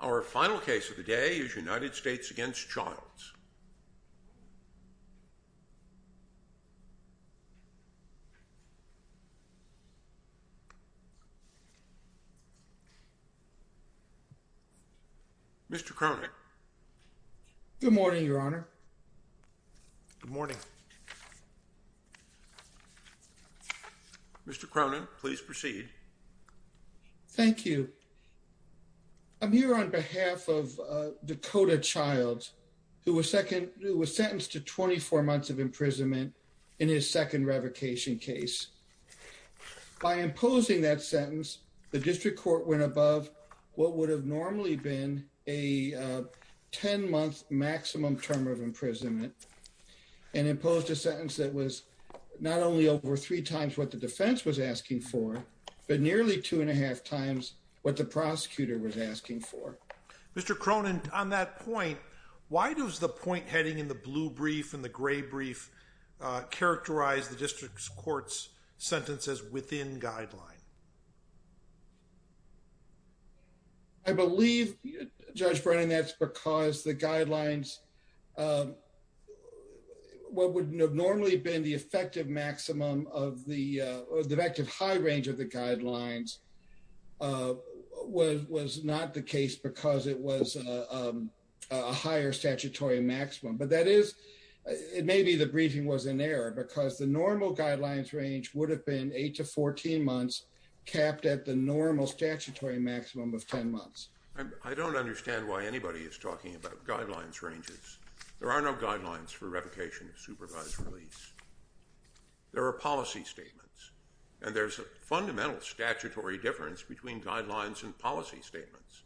Our final case of the day is United States v. Childs. Mr. Cronin. Good morning, Your Honor. Good morning. Mr. Cronin, please proceed. Thank you. I'm here on behalf of Dakota Childs, who was sentenced to 24 months of imprisonment in his second revocation case. By imposing that sentence, the district court went above what would have normally been a 10-month maximum term of imprisonment and imposed a sentence that was not only over three times what the defense was asking for, but nearly two and a half times what the prosecutor was asking for. Mr. Cronin, on that point, why does the point heading in the blue brief and the gray brief characterize the district court's sentences within guideline? I believe, Judge Cronin, that's because the guidelines, what would normally have been the effective maximum of the effective high range of the guidelines, was not the case because it was a higher statutory maximum. Maybe the briefing was in error because the normal guidelines range would have been 8 to 14 months capped at the normal statutory maximum of 10 months. I don't understand why anybody is talking about guidelines ranges. There are no guidelines for revocation of supervised release. There are policy statements, and there's a fundamental statutory difference between guidelines and policy statements.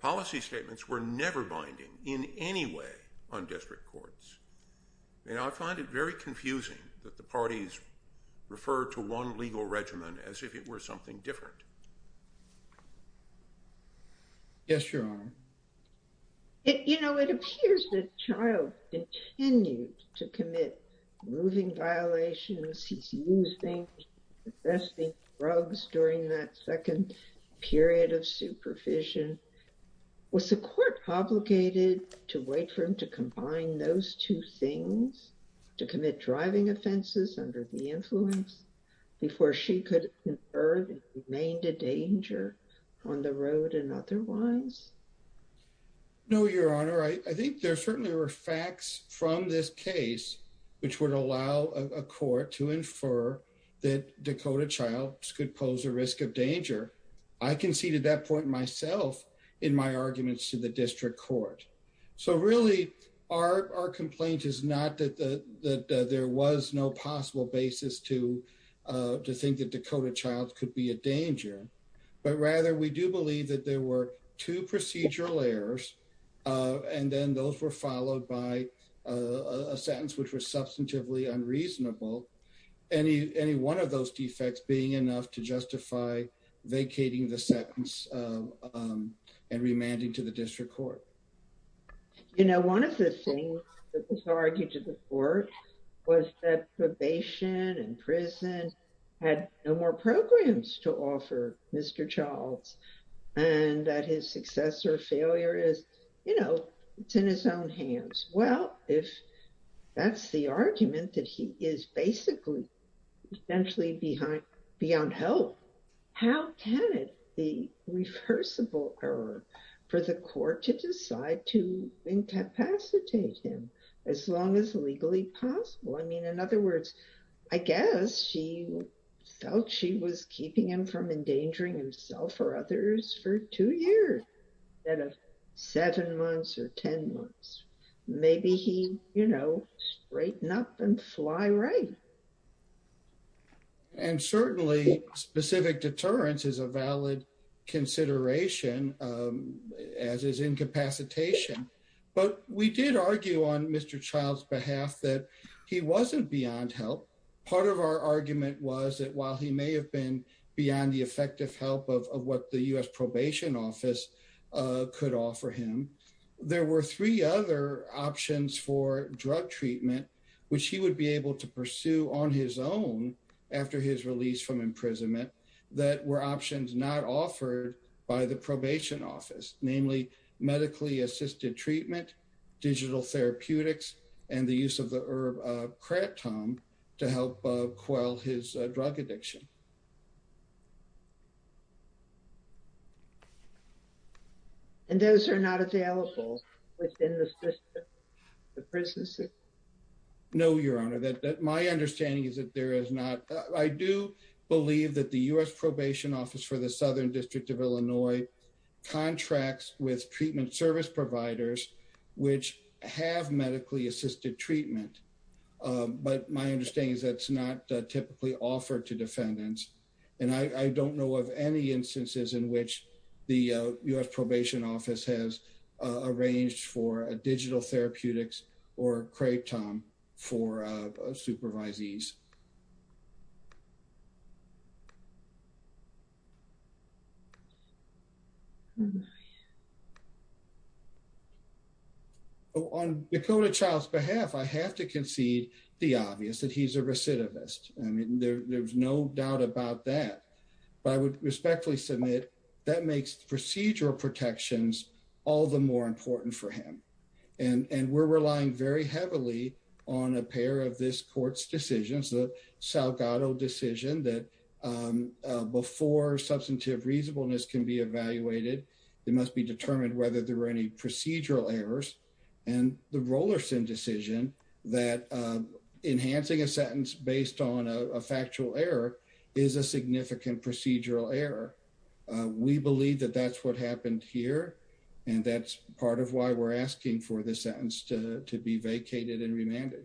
Policy statements were never binding in any way on district courts, and I find it very confusing that the parties refer to one legal regimen as if it were something different. Yes, Your Honor. You know, it appears that the child continued to commit moving violations, he's using and possessing drugs during that second period of supervision. Was the court obligated to wait for him to combine those two things, to commit driving offenses under the influence, before she could infer that he remained a danger on the road and otherwise? No, Your Honor. I think there certainly were facts from this case, which would allow a court to infer that Dakota Child could pose a risk of danger. I conceded that point myself in my arguments to the district court. So really, our complaint is not that there was no possible basis to think that Dakota Child could be a danger, but rather we do believe that there were two procedural errors, and then those were followed by a sentence which was substantively unreasonable. Any one of those defects being enough to justify vacating the sentence and remanding to the district court. You know, one of the things that was argued to the court was that probation and prison had no more programs to offer Mr. Childs, and that his success or failure is, you know, it's in his own hands. Well, if that's the argument that he is basically essentially beyond help, how can it be reversible error for the court to decide to incapacitate him as long as legally possible? I mean, in other words, I guess she felt she was keeping him from endangering himself or others for two years, instead of seven months or 10 months. Maybe he, you know, straighten up and fly right. And certainly specific deterrence is a valid consideration as is incapacitation. But we did argue on Mr. Child's behalf that he wasn't beyond help. Part of our argument was that while he may have been beyond the effective help of what the U.S. probation office could offer him, there were three other options for drug treatment, which he would be able to pursue on his own after his release from imprisonment, that were options not offered by the probation office, namely medically assisted treatment, digital therapeutics and the use of the herb kratom to help quell his drug addiction. And those are not available within the prison system? No, Your Honor, my understanding is that there is not. I do believe that the U.S. probation office for the Southern District of Illinois contracts with treatment service providers which have medically assisted treatment. But my understanding is that's not typically offered to defendants. And I don't know of any instances in which the U.S. probation office has arranged for a digital therapeutics or kratom for supervisees. On Dakota Child's behalf, I have to concede the obvious that he's a recidivist. I mean, there's no doubt about that. But I would respectfully submit that makes procedural protections all the more important for him. And we're relying very heavily on a pair of this court's decisions, the Salgado decision that before substantive reasonableness can be evaluated, it must be determined whether there were any procedural errors. And the Rolerson decision that enhancing a sentence based on a factual error is a significant procedural error. We believe that that's what happened here. And that's part of why we're asking for this sentence to be vacated and remanded.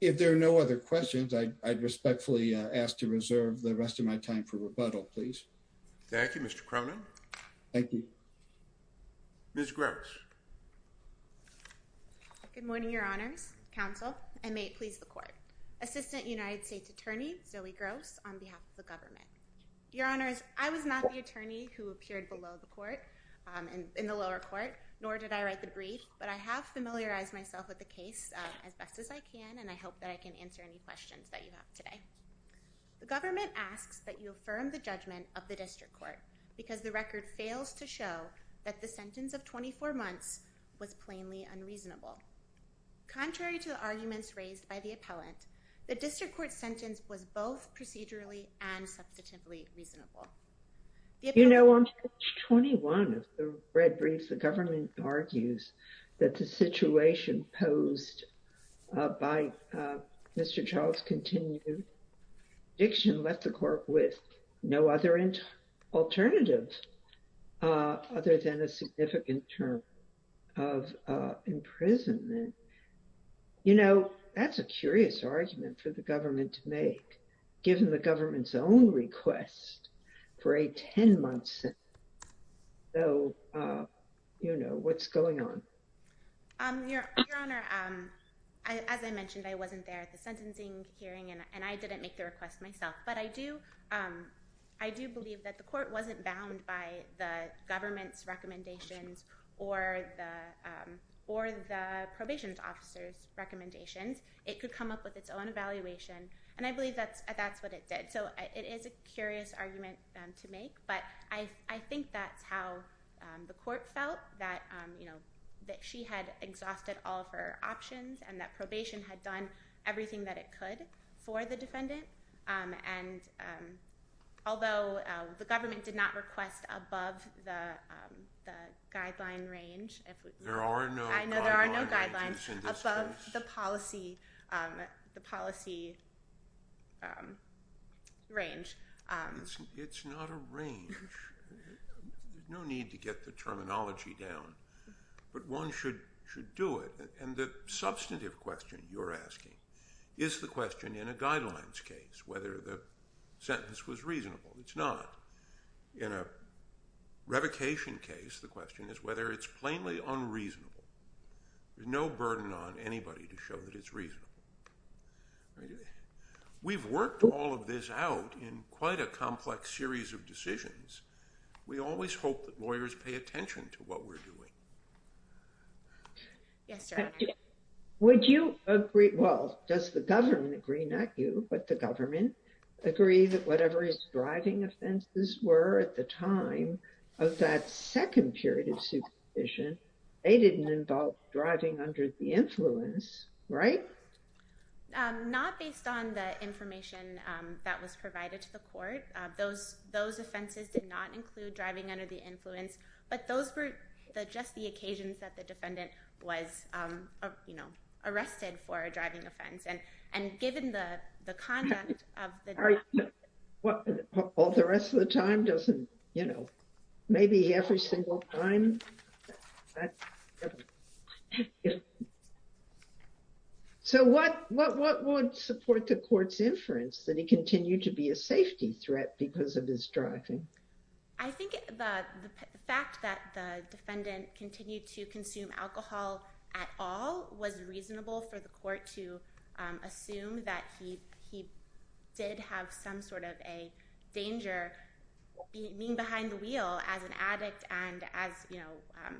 If there are no other questions, I respectfully ask to reserve the rest of my time for rebuttal, please. Thank you, Mr. Cronin. Thank you. Ms. Gross. Good morning, Your Honors, Counsel, and may it please the court. Assistant United States Attorney Zoe Gross on behalf of the government. Your Honors, I was not the attorney who appeared below the court in the lower court, nor did I write the brief, but I have familiarized myself with the case as best as I can, and I hope that I can answer any questions that you have today. The government asks that you affirm the judgment of the district court because the record fails to show that the sentence of 24 months was plainly unreasonable. Contrary to the arguments raised by the appellant, the district court sentence was both procedurally and substantively reasonable. You know, on page 21 of the red brief, the government argues that the situation posed by Mr. Charles' continued addiction left the court with no other alternative other than a significant term of imprisonment. You know, that's a curious argument for the government to make, given the government's own request for a 10-month sentence. So, you know, what's going on? Your Honor, as I mentioned, I wasn't there at the sentencing hearing, and I didn't make the request myself. But I do believe that the court wasn't bound by the government's recommendations or the probation officer's recommendations. It could come up with its own evaluation, and I believe that's what it did. So it is a curious argument to make, but I think that's how the court felt, that, you know, that she had exhausted all of her options and that probation had done everything that it could for the defendant. And although the government did not request above the guideline range. I know there are no guidelines above the policy range. It's not a range. There's no need to get the terminology down, but one should do it. And the substantive question you're asking is the question in a guidelines case whether the sentence was reasonable. It's not. In a revocation case, the question is whether it's plainly unreasonable. There's no burden on anybody to show that it's reasonable. We've worked all of this out in quite a complex series of decisions. We always hope that lawyers pay attention to what we're doing. Yes, sir. Would you agree? Well, does the government agree? Not you, but the government agree that whatever his driving offenses were at the time of that second period of supervision, they didn't involve driving under the influence, right? Those offenses did not include driving under the influence, but those were just the occasions that the defendant was, you know, arrested for a driving offense. And given the conduct of the. All the rest of the time doesn't, you know, maybe every single time. So what would support the court's inference that he continued to be a safety threat because of his driving? I think the fact that the defendant continued to consume alcohol at all was reasonable for the court to assume that he did have some sort of a danger. Being behind the wheel as an addict and as you know,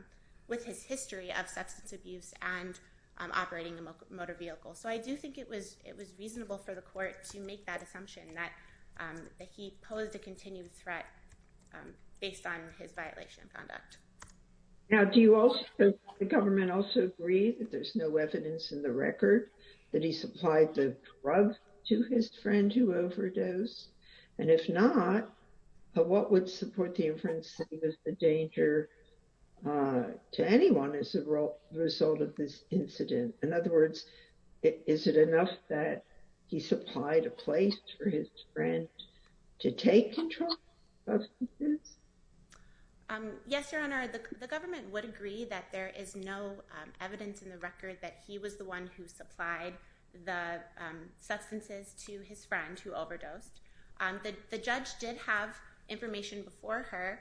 with his history of substance abuse and operating a motor vehicle. So I do think it was it was reasonable for the court to make that assumption that he posed a continued threat based on his violation of conduct. Now, do you also the government also agree that there's no evidence in the record that he supplied the drug to his friend to overdose? And if not, what would support the inference that he was a danger to anyone as a result of this incident? In other words, is it enough that he supplied a place for his friend to take control of this? Yes, Your Honor, the government would agree that there is no evidence in the record that he was the one who supplied the substances to his friend who overdosed. The judge did have information before her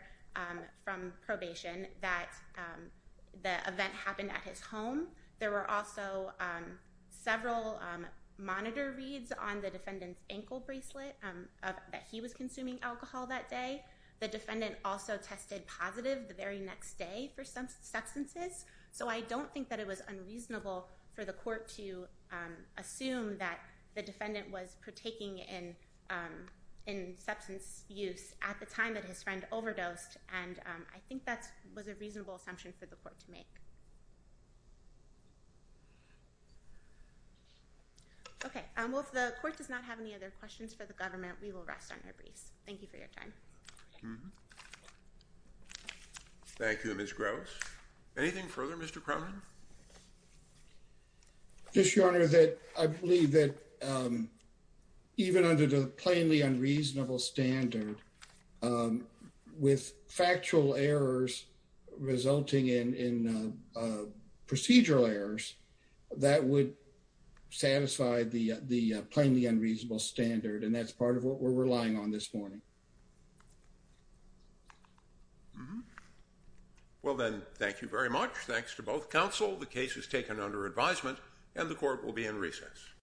from probation that the event happened at his home. There were also several monitor reads on the defendant's ankle bracelet that he was consuming alcohol that day. The defendant also tested positive the very next day for some substances. So I don't think that it was unreasonable for the court to assume that the defendant was partaking in in substance use at the time that his friend overdosed. And I think that was a reasonable assumption for the court to make. OK, well, if the court does not have any other questions for the government, we will rest on our briefs. Thank you for your time. Thank you, Ms. Gross. Anything further, Mr. Cronin? Just, Your Honor, that I believe that even under the plainly unreasonable standard with factual errors resulting in procedural errors, that would satisfy the plainly unreasonable standard. And that's part of what we're relying on this morning. Well, then, thank you very much. Thanks to both counsel. The case is taken under advisement and the court will be in recess.